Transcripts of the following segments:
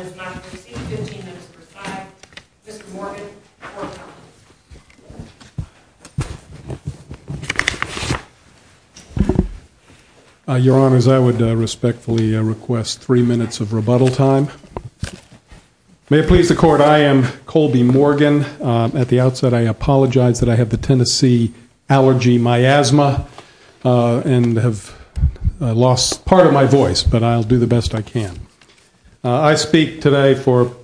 is not receiving 15 minutes per side. Mr. Morgan, the floor is yours. Your Honors, I would respectfully request three minutes of rebuttal time. May it please the Court, I am Colby Morgan. At the outset, I apologize that I have the Tennessee allergy miasma and have lost part of my voice, but I'll do the best I can. I speak today for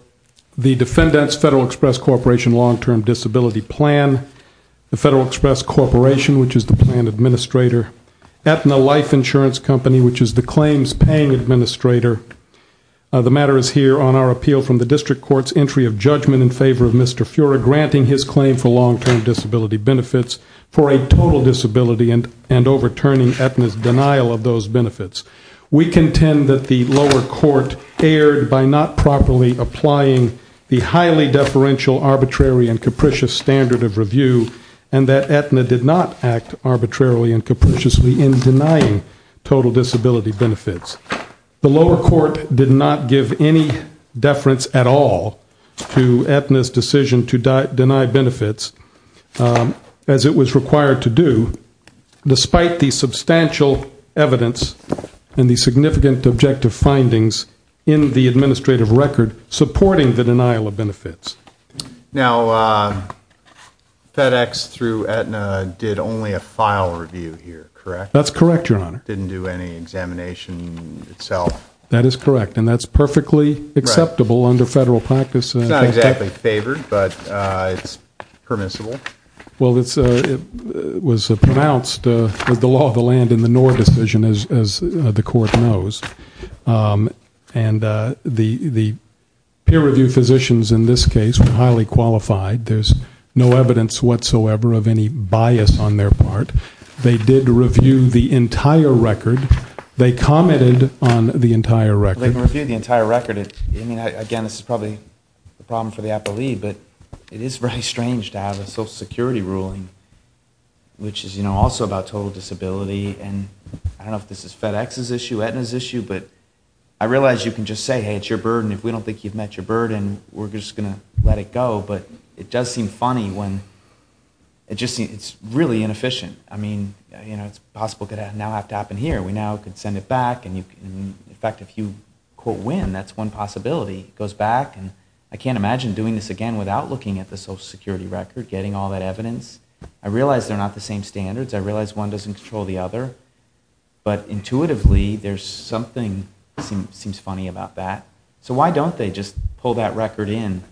the Defendant's Federal Express Corporation Long-Term Disability Plan, the Federal Express Corporation, which is the plan administrator, Aetna Life Insurance Company, which is the entry of judgment in favor of Mr. Fura granting his claim for long-term disability benefits for a total disability and overturning Aetna's denial of those benefits. We contend that the lower court erred by not properly applying the highly deferential, arbitrary, and capricious standard of review and that Aetna did not act arbitrarily and capriciously in denying total disability benefits. The lower court did not give any deference at all to Aetna's decision to deny benefits, as it was required to do, despite the substantial evidence and the significant objective findings in the administrative record supporting the denial of benefits. Now FedEx through Aetna did only a file review here, correct? That's correct, Your Honor. Didn't do any examination itself. That is correct, and that's perfectly acceptable under federal practice. It's not exactly favored, but it's permissible. Well, it was pronounced that the law of the land in the Knorr decision, as the court knows, and the peer review physicians in this case were highly qualified. There's no evidence whatsoever of any bias on their part. They did review the entire record. They commented on the entire record. They reviewed the entire record. I mean, again, this is probably a problem for the appellee, but it is very strange to have a Social Security ruling, which is, you know, also about total disability, and I don't know if this is FedEx's issue, Aetna's issue, but I realize you can just say, hey, it's your burden. If we don't think you've met your burden, we're just going to let it go, but it does seem funny when it's really inefficient. I mean, you know, it's possible it could now have to happen here. We now could send it back, and in fact, if you, quote, win, that's one possibility. It goes back, and I can't imagine doing this again without looking at the Social Security record, getting all that evidence. I realize they're not the same standards. I realize one doesn't control the other, but intuitively there's something that seems funny about that. So why don't they just pull that record in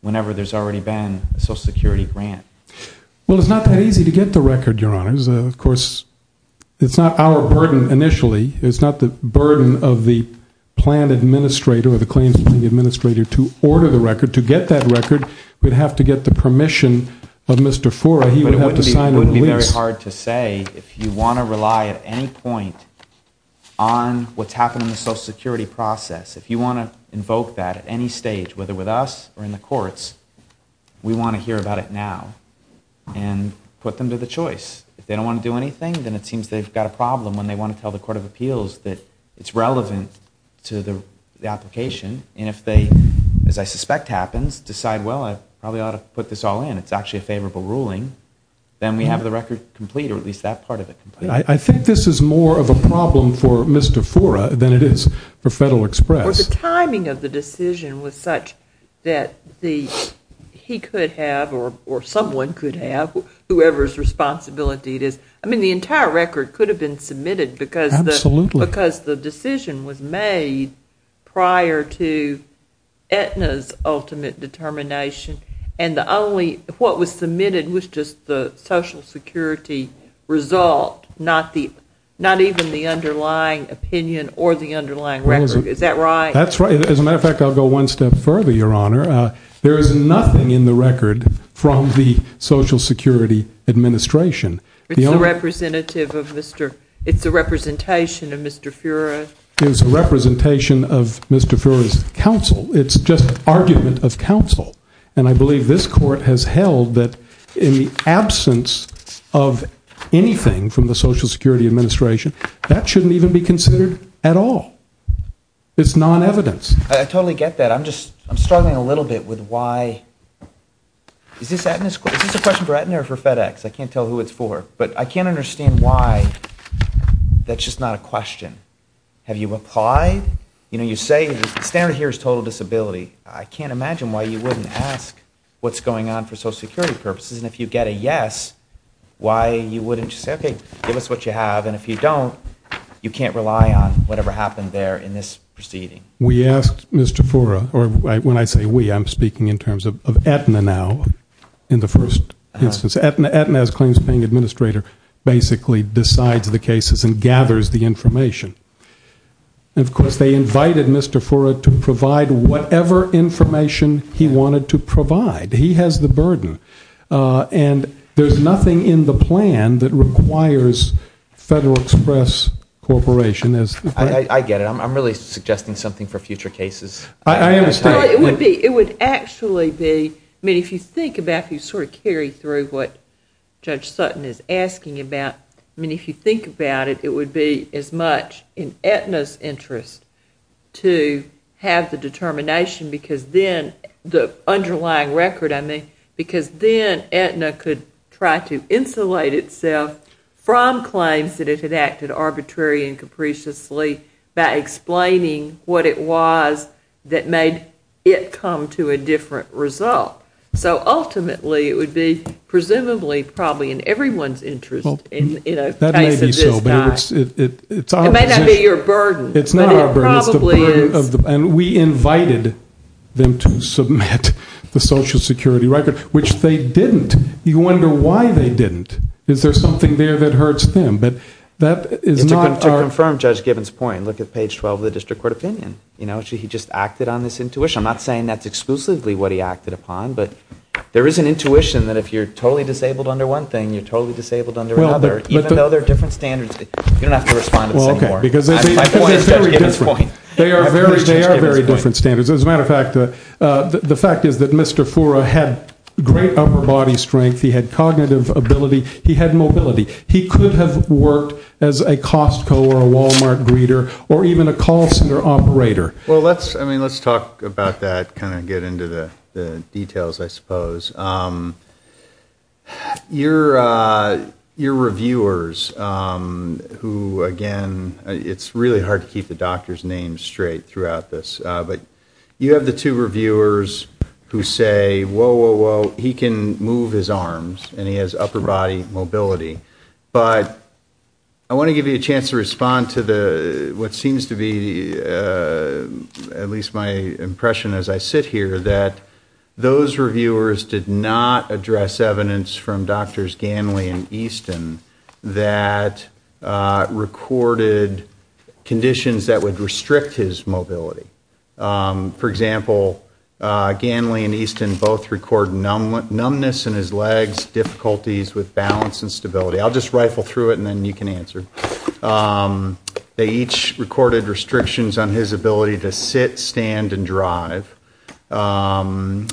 whenever there's already been a Social Security grant? Well, it's not that easy to get the record, Your Honors. Of course, it's not our burden initially. It's not the burden of the plan administrator or the claims planning administrator to order the record. To get that record, we'd have to get the permission of Mr. Fora. He would have to sign a lease. It wouldn't be very hard to say if you want to rely at any point on what's happened in the Social Security process, if you want to invoke that at any stage, whether with us or in the courts, we want to hear about it now and put them to the choice. If they don't want to do anything, then it seems they've got a problem when they want to tell the Court of Appeals that it's relevant to the application, and if they, as I suspect happens, decide, well, I probably ought to put this all in. It's actually a favorable ruling. Then we have the record complete, or at least that part of it complete. I think this is more of a problem for Mr. Fora than it is for Federal Express. Well, the timing of the decision was such that he could have or someone could have, whoever's responsibility it is. I mean, the entire record could have been submitted because the decision was made prior to Aetna's ultimate determination, and what was submitted was just the Social Security result, not even the underlying opinion or the underlying record. Is that right? That's right. As a matter of fact, I'll go one step further, Your Honor. There is nothing in the record from the Social Security Administration. It's the representative of Mr. It's a representation of Mr. Furrow. It's a representation of Mr. Furrow's counsel. It's just argument of counsel, and I believe this Court has held that in the absence of anything from the Social Security Administration, that shouldn't even be considered at all. It's non-evidence. I totally get that. I'm just struggling a little bit with why. Is this a question for Aetna or for FedEx? I can't tell who it's for, but I can't understand why that's just not a question. Have you applied? You say the standard here is total disability. I can't imagine why you wouldn't ask what's going on for Social Security purposes, and if you get a yes, why you wouldn't just say, okay, give us what you have, and if you don't, you can't rely on whatever happened there in this proceeding. We asked Mr. Furrow, or when I say we, I'm speaking in terms of Aetna now, in the first instance. Aetna's claims paying administrator basically decides the cases and gathers the information he wanted to provide. He has the burden, and there's nothing in the plan that requires Federal Express Corporation. I get it. I'm really suggesting something for future cases. I understand. It would actually be, if you think about, if you carry through what Judge Sutton is asking about, if you think about it, it would be as much in Aetna's interest to have the underlying record, I mean, because then Aetna could try to insulate itself from claims that it had acted arbitrary and capriciously by explaining what it was that made it come to a different result. So ultimately, it would be presumably probably in everyone's interest in a case of this kind. That may be so, but it's our position. It may not be your burden. It's not our burden. It probably is. And we invited them to submit the Social Security record, which they didn't. You wonder why they didn't. Is there something there that hurts them? To confirm Judge Gibbons' point, look at page 12 of the District Court Opinion. You know, he just acted on this intuition. I'm not saying that's exclusively what he acted upon, but there is an intuition that if you're totally disabled under one thing, you're totally disabled under another, even though there are different standards. You don't have to respond to this anymore. My point is Judge Gibbons' point. They are very different standards. As a matter of fact, the fact is that Mr. Fura had great upper body strength. He had cognitive ability. He had mobility. He could have worked as a Costco or a Walmart greeter or even a call center operator. Well, let's talk about that, kind of get into the details, I suppose. You're reviewers who, again, it's really hard to keep the doctor's name straight throughout this. But you have the two reviewers who say, whoa, whoa, whoa, he can move his arms and he has upper body mobility. But I want to give you a chance to respond to what seems to be at least my impression as I sit here that those reviewers did not address evidence from Drs. Ganley and Easton that recorded conditions that would restrict his mobility. For example, Ganley and Easton both record numbness in his legs, difficulties with balance and stability. I'll just rifle through it and then you can answer. They each recorded restrictions on his ability to sit, stand, and drive. And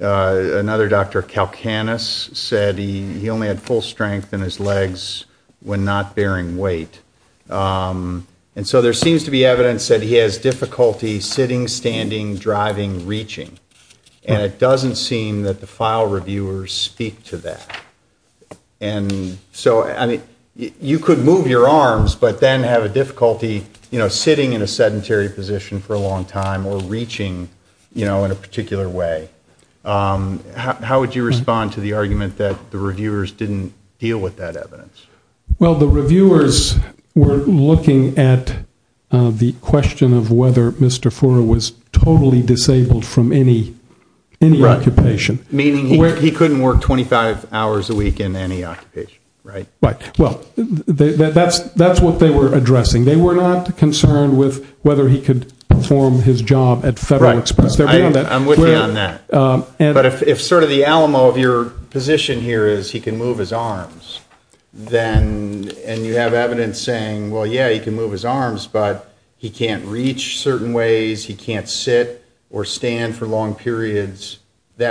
another doctor, Kalkanis, said he only had full strength in his legs when not bearing weight. And so there seems to be evidence that he has difficulty sitting, standing, driving, reaching. And it doesn't seem that the file reviewers speak to that. And so, I mean, you could move your arms but then have a difficulty, you know, sitting in a sedentary position for a long time or reaching, you know, in a particular way. How would you respond to the argument that the reviewers didn't deal with that evidence? Well, the reviewers were looking at the question of whether Mr. Fora was totally disabled from any occupation. Meaning he couldn't work 25 hours a week in any occupation, right? Right. Well, that's what they were addressing. They were not concerned with whether he could perform his job at federal expense. I'm with you on that. But if sort of the Alamo of your position here is he can move his arms, and you have evidence saying, well, yeah, he can move his arms, but he can't reach certain ways, he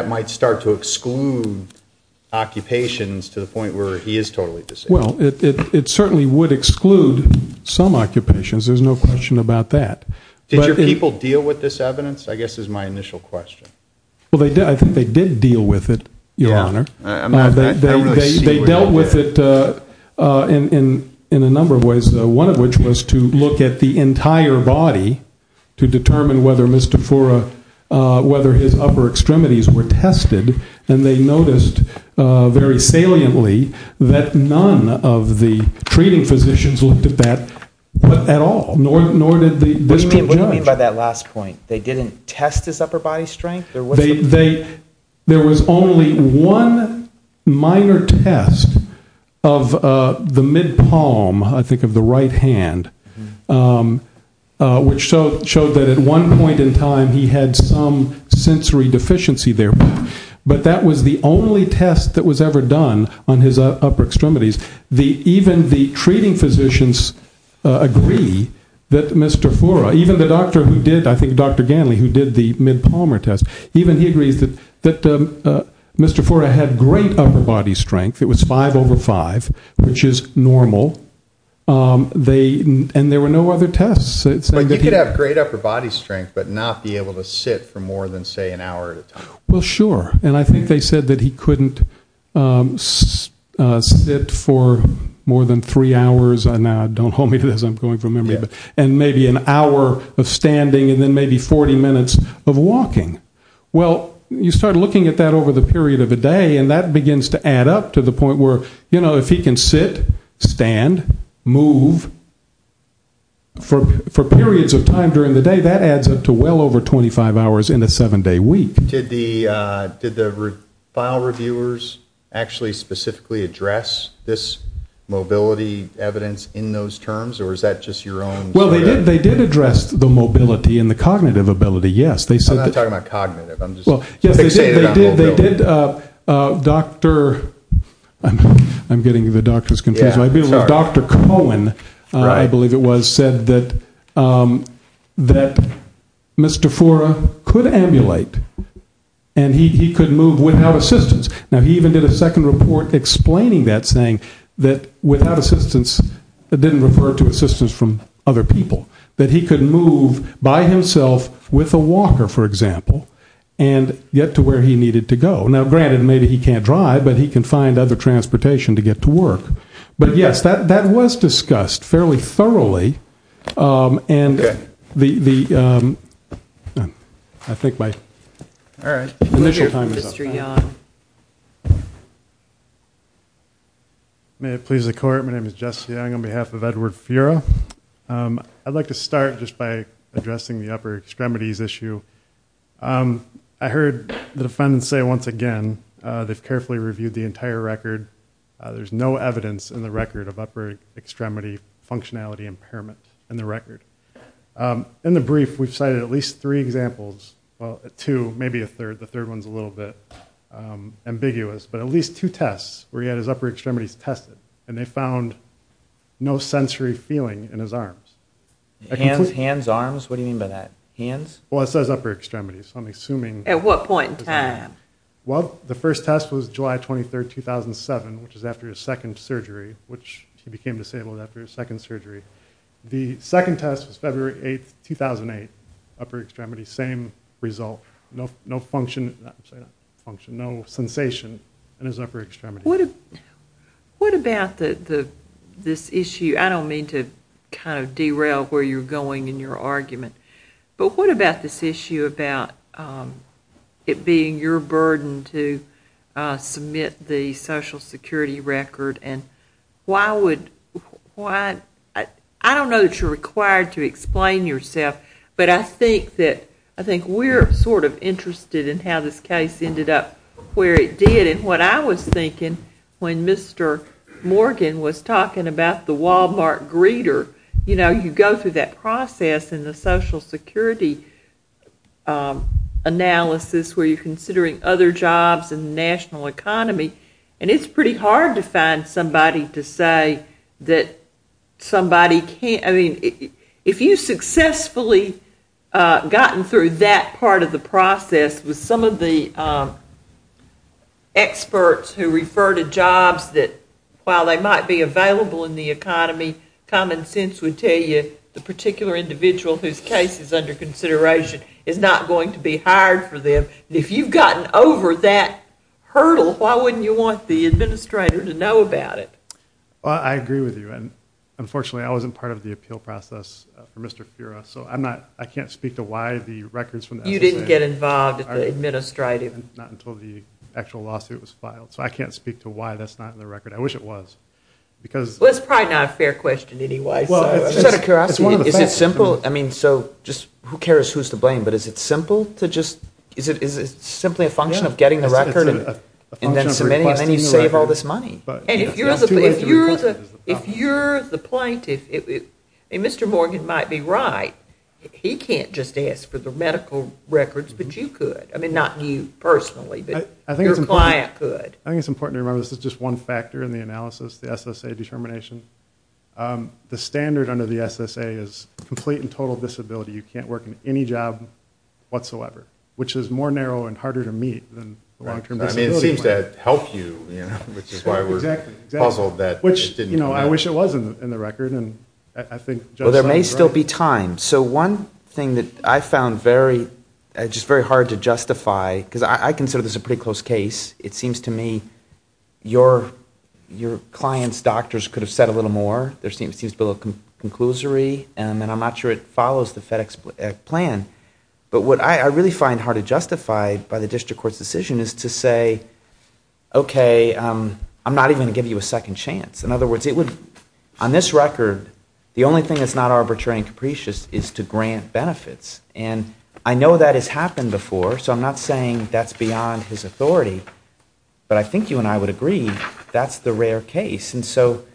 might start to exclude occupations to the point where he is totally disabled. Well, it certainly would exclude some occupations. There's no question about that. Did your people deal with this evidence, I guess, is my initial question. Well, I think they did deal with it, Your Honor. They dealt with it in a number of ways. One of which was to look at the entire body to determine whether Mr. Fora, whether his upper extremities were tested. And they noticed very saliently that none of the treating physicians looked at that at all. Nor did the district judge. What do you mean by that last point? They didn't test his upper body strength? There was only one minor test of the mid-palm, I think, of the right hand, which showed that at one point in time he had some sensory deficiency there. But that was the only test that was ever done on his upper extremities. Even the treating physicians agree that Mr. Fora, even the doctor who did, I think Dr. Ganley, who did the mid-palmer test, even he agrees that Mr. Fora had great upper body strength. It was 5 over 5, which is normal. And there were no other tests. But he could have great upper body strength but not be able to sit for more than, say, an hour at a time. Well, sure. And I think they said that he couldn't sit for more than three hours. Now, don't hold me to this. I'm going from memory. And maybe an hour of standing and then maybe 40 minutes of walking. Well, you start looking at that over the period of a day and that begins to add up to the For periods of time during the day, that adds up to well over 25 hours in a seven-day week. Did the file reviewers actually specifically address this mobility evidence in those terms? Or is that just your own theory? Well, they did address the mobility and the cognitive ability, yes. I'm not talking about cognitive. I'm just saying about mobility. I'm getting the doctors confused. Dr. Cohen, I believe it was, said that Mr. Fora could ambulate and he could move without assistance. Now, he even did a second report explaining that, saying that without assistance, it didn't refer to assistance from other people, that he could move by himself with a walker, for Now, granted, maybe he can't drive, but he can find other transportation to get to work. But, yes, that was discussed fairly thoroughly. And the, I think my initial time is up. Mr. Young. May it please the court, my name is Jesse Young on behalf of Edward Fura. I'd like to start just by addressing the upper extremities issue. I heard the defendants say once again, they've carefully reviewed the entire record. There's no evidence in the record of upper extremity functionality impairment in the record. In the brief, we've cited at least three examples, well, two, maybe a third. The third one's a little bit ambiguous. But at least two tests where he had his upper extremities tested. And they found no sensory feeling in his arms. Hands, arms, what do you mean by that? Hands? Well, it says upper extremities, so I'm assuming... At what point in time? Well, the first test was July 23, 2007, which is after his second surgery, which he became disabled after his second surgery. The second test was February 8, 2008, upper extremities, same result. No function, no sensation in his upper extremities. What about this issue, I don't mean to kind of derail where you're going in your argument. But what about this issue about it being your burden to submit the social security record and why would... I don't know that you're required to explain yourself, but I think we're sort of interested in how this case ended up where it did. And what I was thinking when Mr. Morgan was talking about the Walmart greeter, you know, you go through that process in the social security analysis where you're considering other jobs in the national economy, and it's pretty hard to find somebody to say that somebody can't... I mean, if you successfully gotten through that part of the process with some of the experts who refer to jobs that, while they might be available in the economy, common sense would tell you the particular individual whose case is under consideration is not going to be hired for them. And if you've gotten over that hurdle, why wouldn't you want the administrator to know about it? Well, I agree with you. And unfortunately, I wasn't part of the appeal process for Mr. Fura, so I can't speak to why the records from... You didn't get involved at the administrative... Not until the actual lawsuit was filed. So I can't speak to why that's not in the record. I wish it was. Well, it's probably not a fair question anyway. Is it simple? I mean, so just who cares who's to blame, but is it simple to just... Is it simply a function of getting the record and then submitting, and then you save all this money? If you're the plaintiff, and Mr. Morgan might be right, he can't just ask for the medical records, but you could. I mean, not you personally, but your client could. I think it's important to remember this is just one factor in the analysis, the SSA determination. The standard under the SSA is complete and total disability. You can't work in any job whatsoever, which is more narrow and harder to meet than the long-term disability one. I mean, it seems to help you, which is why we're puzzled that it didn't... Exactly. Which, you know, I wish it was in the record, and I think... Well, there may still be time. So one thing that I found very... Just very hard to justify, because I consider this a pretty close case. It seems to me your client's doctors could have said a little more. There seems to be a little conclusory, and I'm not sure it follows the FedEx plan. But what I really find hard to justify by the district court's decision is to say, okay, I'm not even going to give you a second chance. In other words, it would... On this record, the only thing that's not arbitrary and capricious is to grant benefits. And I know that has happened before, so I'm not saying that's beyond his authority. But I think you and I would agree that's the rare case. And so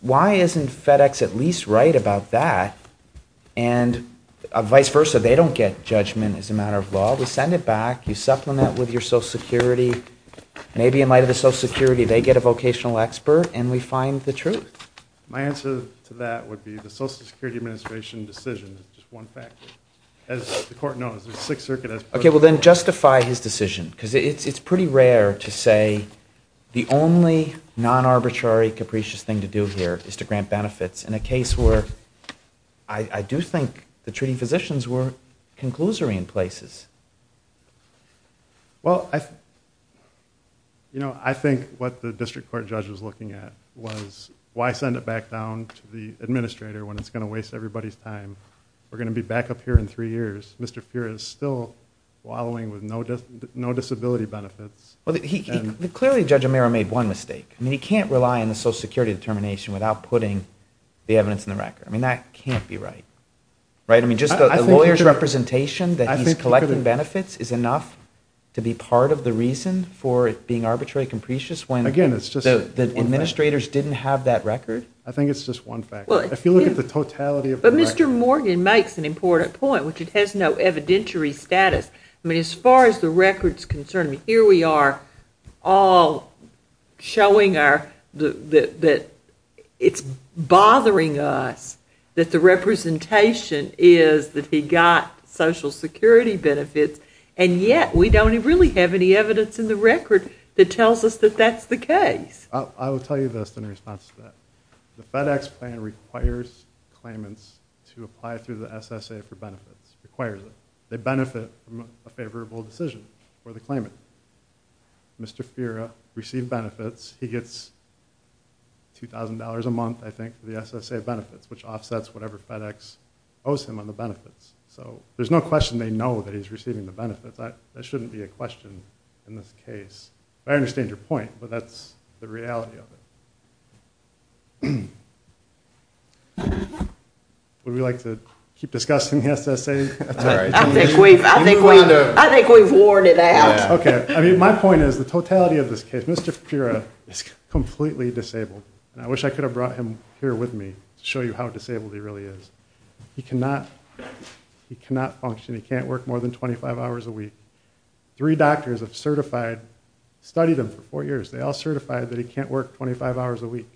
why isn't FedEx at least right about that? And vice versa, they don't get judgment as a matter of law. We send it back. You supplement with your Social Security. Maybe in light of the Social Security, they get a vocational expert, and we find the truth. My answer to that would be the Social Security administration decision is just one factor. As the court knows, the Sixth Circuit has... Okay, well, then justify his decision, because it's pretty rare to say the only non-arbitrary, capricious thing to do here is to grant benefits in a case where I do think the treating physicians were conclusory in places. Well, I... You know, I think what the district court judge was looking at was why send it back down to the administrator when it's going to waste everybody's time? We're going to be back up here in three years. Mr. Feer is still wallowing with no disability benefits. Clearly, Judge O'Meara made one mistake. I mean, he can't rely on the Social Security determination without putting the evidence in the record. I mean, that can't be right, right? I mean, just the lawyer's representation that he's collecting benefits is enough to be part of the reason for it being arbitrary, capricious when the administrators didn't have that record? I think it's just one factor. If you look at the totality of the record... But Mr. Morgan makes an important point, which it has no evidentiary status. I mean, as far as the record's concerned, here we are all showing that it's bothering us that the representation is that he got Social Security benefits, and yet we don't really have any evidence in the record that tells us that that's the case. I will tell you this in response to that. The FedEx plan requires claimants to apply through the SSA for benefits. It requires it. They benefit from a favorable decision for the claimant. Mr. Fiera received benefits. He gets $2,000 a month, I think, for the SSA benefits, which offsets whatever FedEx owes him on the benefits. So there's no question they know that he's receiving the benefits. That shouldn't be a question in this case. I understand your point, but that's the reality of it. Would we like to keep discussing the SSA? That's all right. I think we've worn it out. My point is, the totality of this case... Mr. Fiera is completely disabled, and I wish I could have brought him here with me to show you how disabled he really is. He cannot function. He can't work more than 25 hours a week. Three doctors have studied him for four years. They all certify that he can't work 25 hours a week.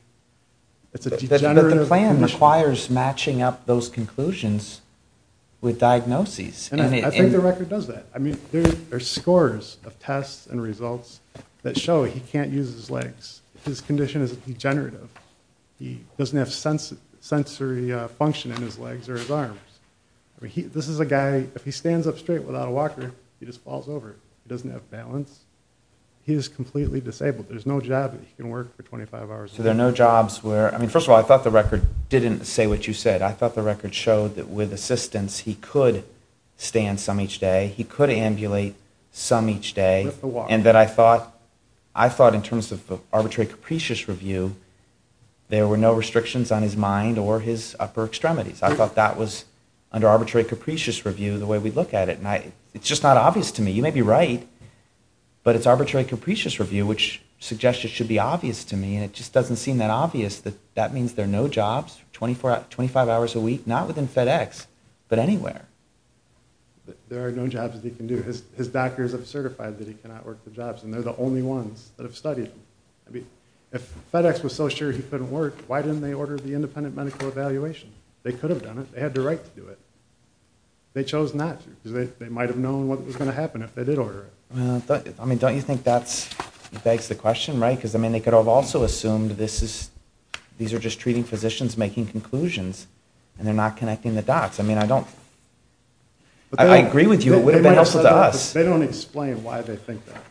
But the plan requires matching up those conclusions with diagnoses. I think the record does that. There are scores of tests and results that show he can't use his legs. His condition is degenerative. He doesn't have sensory function in his legs or his arms. If he stands up straight without a walker, he just falls over. He doesn't have balance. He's completely disabled. There's no job that he can work for 25 hours a week. First of all, I thought the record didn't say what you said. I thought the record showed that with assistance he could stand some each day. He could ambulate some each day. I thought in terms of arbitrary capricious review, there were no restrictions on his mind or his upper extremities. I thought that was under arbitrary capricious review the way we look at it. It's just not obvious to me. You may be right, but it's arbitrary capricious review which suggests it should be obvious to me. It just doesn't seem that obvious that that means there are no jobs for 25 hours a week, not within FedEx, but anywhere. There are no jobs that he can do. His doctors have certified that he cannot work the jobs. They're the only ones that have studied him. If FedEx was so sure he couldn't work, why didn't they order the independent medical evaluation? They could have done it. They had the right to do it. They chose not to because they might have known what was going to happen if they did order it. Don't you think that begs the question? They could have also assumed these are just treating physicians making conclusions and they're not connecting the dots. I agree with you. It would have been helpful to us. They don't explain why they think that.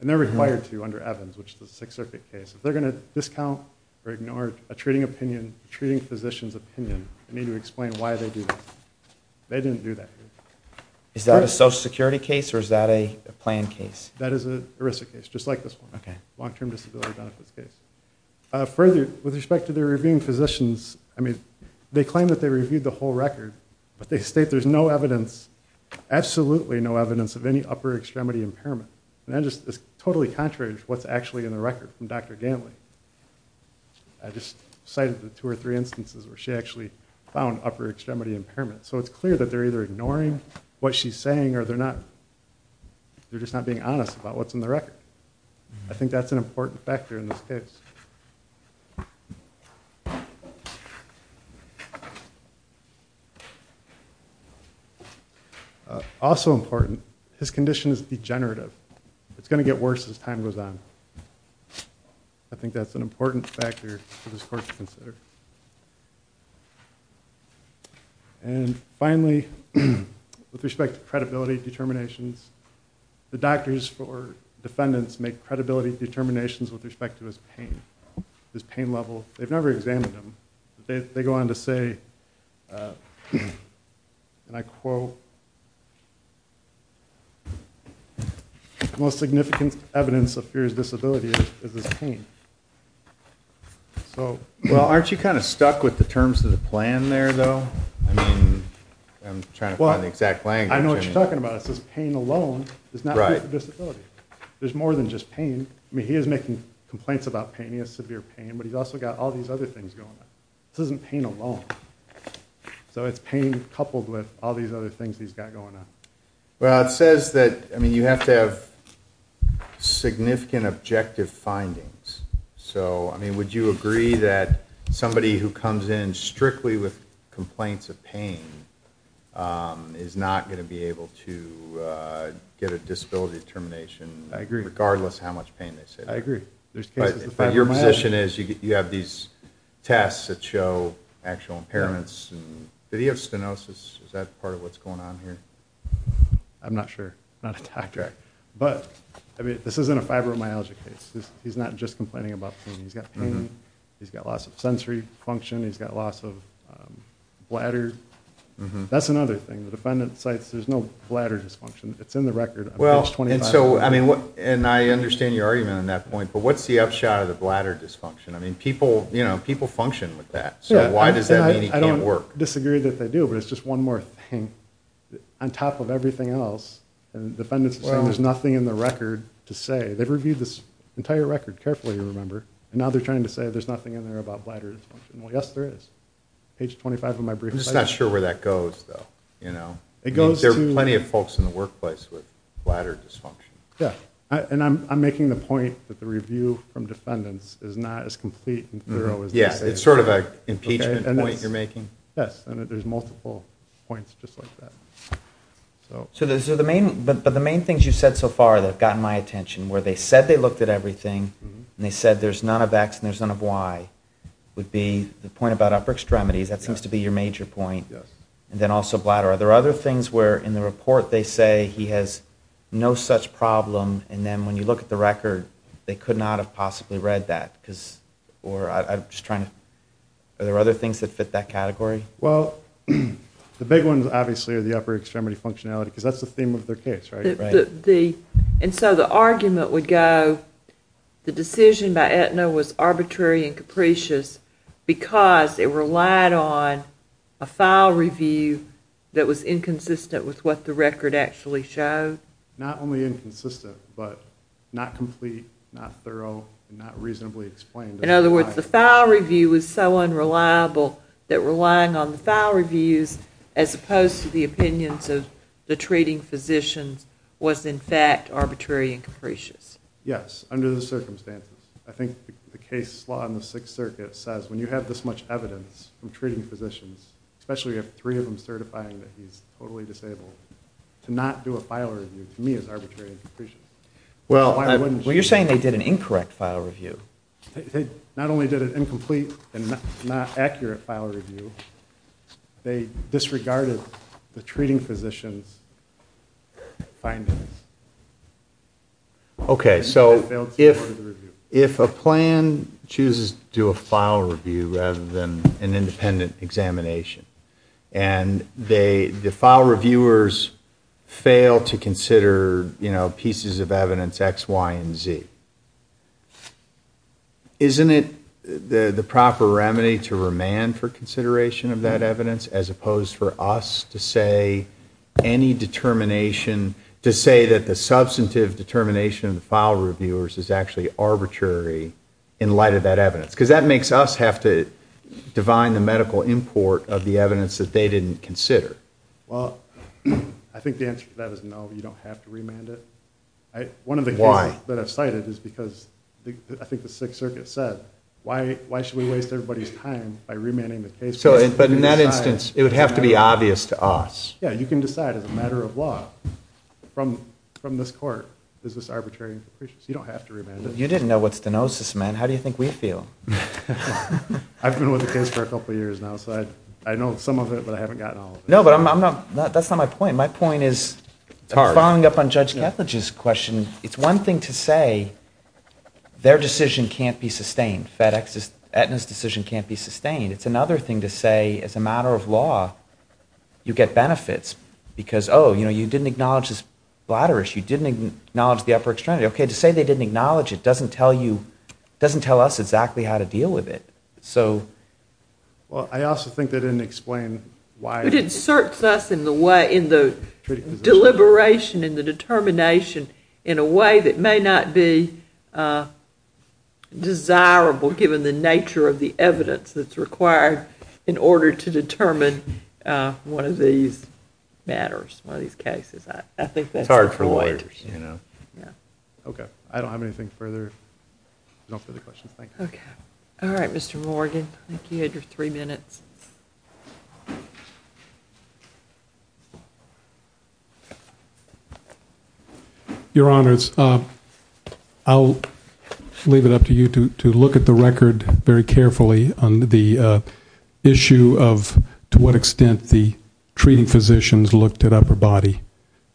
They're required to under Evans, which is a Sixth Circuit case. If they're going to discount or ignore a treating physician's opinion, they need to explain why they do that. They didn't do that. Is that a Social Security case or is that a plan case? That is an ERISA case, just like this one. Further, with respect to the reviewing physicians, they claim that they reviewed the whole record, but they state there's absolutely no evidence of any upper extremity impairment. That's totally contrary to what's actually in the record from Dr. Gantley. I just cited the two or three instances where she actually found upper extremity impairment. It's clear that they're either ignoring what she's saying or they're just not being honest about what's in the record. I think that's an important factor in this case. Also important, his condition is degenerative. It's going to get worse as time goes on. I think that's an important factor for this court to consider. Finally, with respect to credibility determinations, the doctors or defendants make credibility determinations with respect to his pain, his pain level. They've never examined him. They go on to say, and I quote, the most significant evidence of fear is disability is his pain. Aren't you kind of stuck with the terms of the plan there, though? I'm trying to find the exact language. I know what you're talking about. It says pain alone is not proof of disability. There's more than just pain. He is making complaints about pain. He has severe pain. But he's also got all these other things going on. This isn't pain alone. It's pain coupled with all these other things he's got going on. It says that you have to have significant objective findings. Would you agree that somebody who comes in strictly with complaints of pain is not going to be able to get a disability determination regardless of how much pain they say they have? I agree. Your position is you have these tests that show actual impairments. Did he have stenosis? Is that part of what's going on here? I'm not sure. This isn't a fibromyalgia case. He's not just complaining about pain. He's got pain. He's got loss of sensory function. He's got loss of bladder. That's another thing. There's no bladder dysfunction. I understand your argument on that point. But what's the upshot of the bladder dysfunction? People function with that. It's just one more thing. On top of everything else, there's nothing in the record to say. They've reviewed this entire record carefully, remember. Now they're trying to say there's nothing in there about bladder dysfunction. Yes, there is. I'm just not sure where that goes, though. There are plenty of folks in the workplace with bladder dysfunction. I'm making the point that the review from defendants is not as complete and thorough as they say it is. It's sort of an impeachment point you're making? Yes. There's multiple points just like that. But the main things you've said so far that have gotten my attention where they said they looked at everything and they said there's none of X and there's none of Y would be the point about upper extremities. That seems to be your major point. And then also bladder. Are there other things where in the report they say he has no such problem and then when you look at the record they could not have possibly read that? Are there other things that fit that category? Well, the big ones obviously are the upper extremity functionality because that's the theme of their case, right? And so the argument would go the decision by Aetna was arbitrary and capricious because it relied on a file review that was inconsistent with what the record actually showed? Not only inconsistent, but not complete, not thorough, and not reasonably explained. In other words, the file review was so unreliable that relying on the file reviews as opposed to the opinions of the treating physicians was in fact arbitrary and capricious? Yes, under the circumstances. I think the case law in the Sixth Circuit says when you have this much evidence from treating physicians, especially if three of them certify that he's totally disabled, to not do a file review to me is arbitrary and capricious. Well, you're saying they did an incorrect file review. They not only did an incomplete and not accurate file review, they disregarded the treating physicians' findings. Okay, so if a plan chooses to do a file review rather than an independent examination and the file reviewers fail to consider pieces of evidence X, Y, and Z, isn't it the proper remedy to remand for consideration of that evidence as opposed for us to say that the substantive determination of the file reviewers is actually arbitrary in light of that evidence? Because that makes us have to divine the medical import of the evidence that they didn't consider. I think the answer to that is no, you don't have to remand it. One of the cases that I've cited is because I think the Sixth Circuit said, why should we waste everybody's time by remanding the case? But in that instance, it would have to be obvious to us. Yeah, you can decide as a matter of law from this court is this arbitrary and capricious. You don't have to remand it. You didn't know what stenosis meant. How do you think we feel? I've been with the case for a couple of years now, so I know some of it, but I haven't gotten all of it. No, but that's not my point. My point is, following up on Judge Ketledge's question, it's one thing to say their decision can't be sustained. FedEx's decision can't be sustained. It's another thing to say as a matter of law, you get benefits because, oh, you didn't acknowledge this bladder issue. You didn't acknowledge the upper extremity. To say they didn't acknowledge it doesn't tell you, doesn't tell us exactly how to deal with it. Well, I also think they didn't explain why... It inserts us in the way, in the deliberation, in the determination in a way that may not be desirable given the nature of the evidence that's required in order to determine one of these matters, one of these cases. It's hard for lawyers. Okay. I don't have anything further. No further questions. Thank you. All right, Mr. Morgan. I think you had your three minutes. Your Honors, I'll leave it up to you to look at the record very carefully on the issue of to what extent the treating physicians looked at upper body.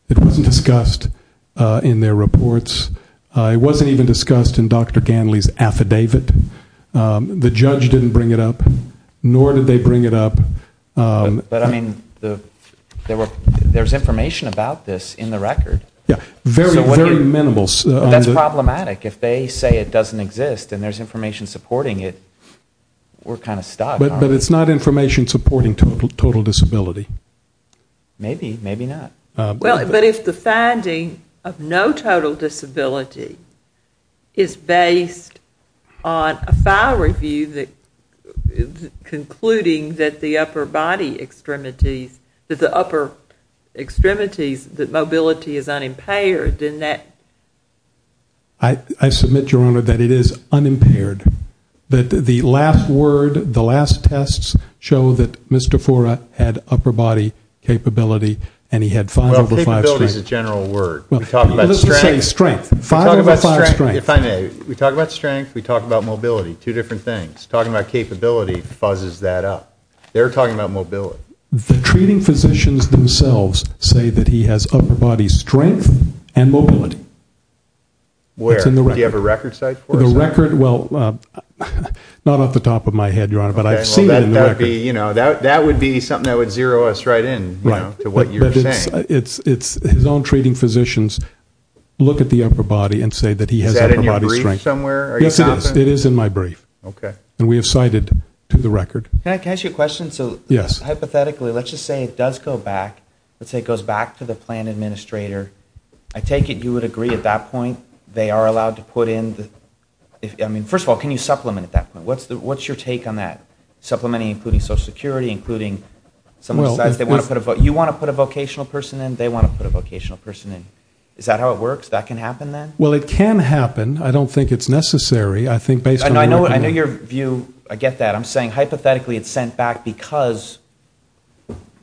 It wasn't discussed in their reports. It wasn't even discussed in Dr. Ganley's affidavit. The judge didn't bring it up, nor did they bring it up. But, I mean, there's information about this in the record. Very, very minimal. That's problematic. If they say it doesn't exist and there's information supporting it, we're kind of stuck. But it's not information supporting total disability. Maybe, maybe not. But if the finding of no total disability is based on a file review concluding that the upper body extremities that the upper extremities, that mobility is unimpaired, then that I submit, Your Honor, that it is unimpaired. The last word, the last tests show that Mr. Fora had upper body capability and he had 5 over 5 strength. Well, capability is a general word. Let's just say strength. 5 over 5 strength. We talk about strength, we talk about mobility. Two different things. Talking about capability fuzzes that up. They're talking about mobility. The treating physicians themselves say that he has upper body strength and mobility. Where? Do you have a record site for it? The record, well, not off the top of my head, Your Honor, but I've seen it in the record. That would be something that would zero us right in to what you're saying. His own treating physicians look at the upper body and say that he has upper body strength. Is that in your brief somewhere? Yes, it is. It is in my brief. And we have cited to the record. Can I ask you a question? Hypothetically, let's just say it does go back to the plan administrator. I take it you would agree at that point they are allowed to put in, I mean, first of all, can you supplement at that point? What's your take on that? Supplementing including social security, including you want to put a vocational person in, they want to put a vocational person in. Is that how it works? That can happen then? Well, it can happen. I don't think it's necessary. I know your view. I get that. I'm saying hypothetically it's sent back because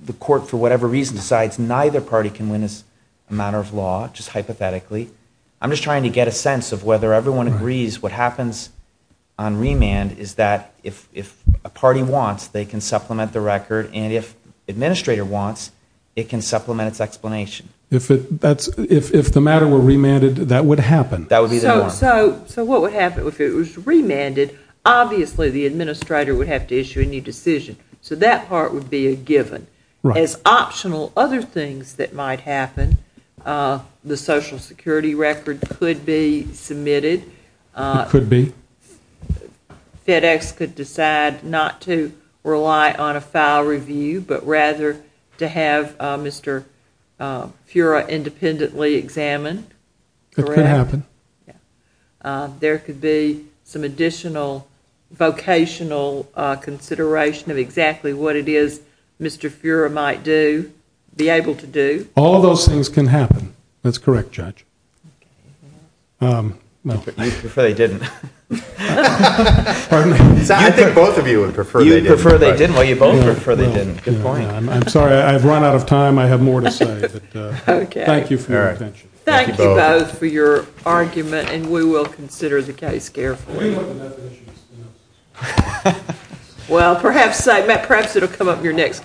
the court for whatever reason decides neither party can win as a matter of law, just hypothetically. I'm just trying to get a sense of whether everyone agrees what happens on remand is that if a party wants, they can supplement the record and if administrator wants, it can supplement its explanation. If the matter were remanded, that would happen? That would be the norm. So what would happen if it was remanded, obviously the administrator would have to issue a new decision. So that part would be a given. As optional other things that might happen, the social security record could be submitted. It could be. FedEx could decide not to rely on a file review but rather to have Mr. Fura independently examined. It could happen. There could be some additional vocational consideration of exactly what it is Mr. Fura might do, be able to do. All those things can happen. That's correct, Judge. You prefer they didn't. I think both of you would prefer they didn't. I'm sorry, I've run out of time. I have more to say. Thank you for your attention. Thank you both for your argument. We will consider the case carefully. Perhaps it will come up in your next case.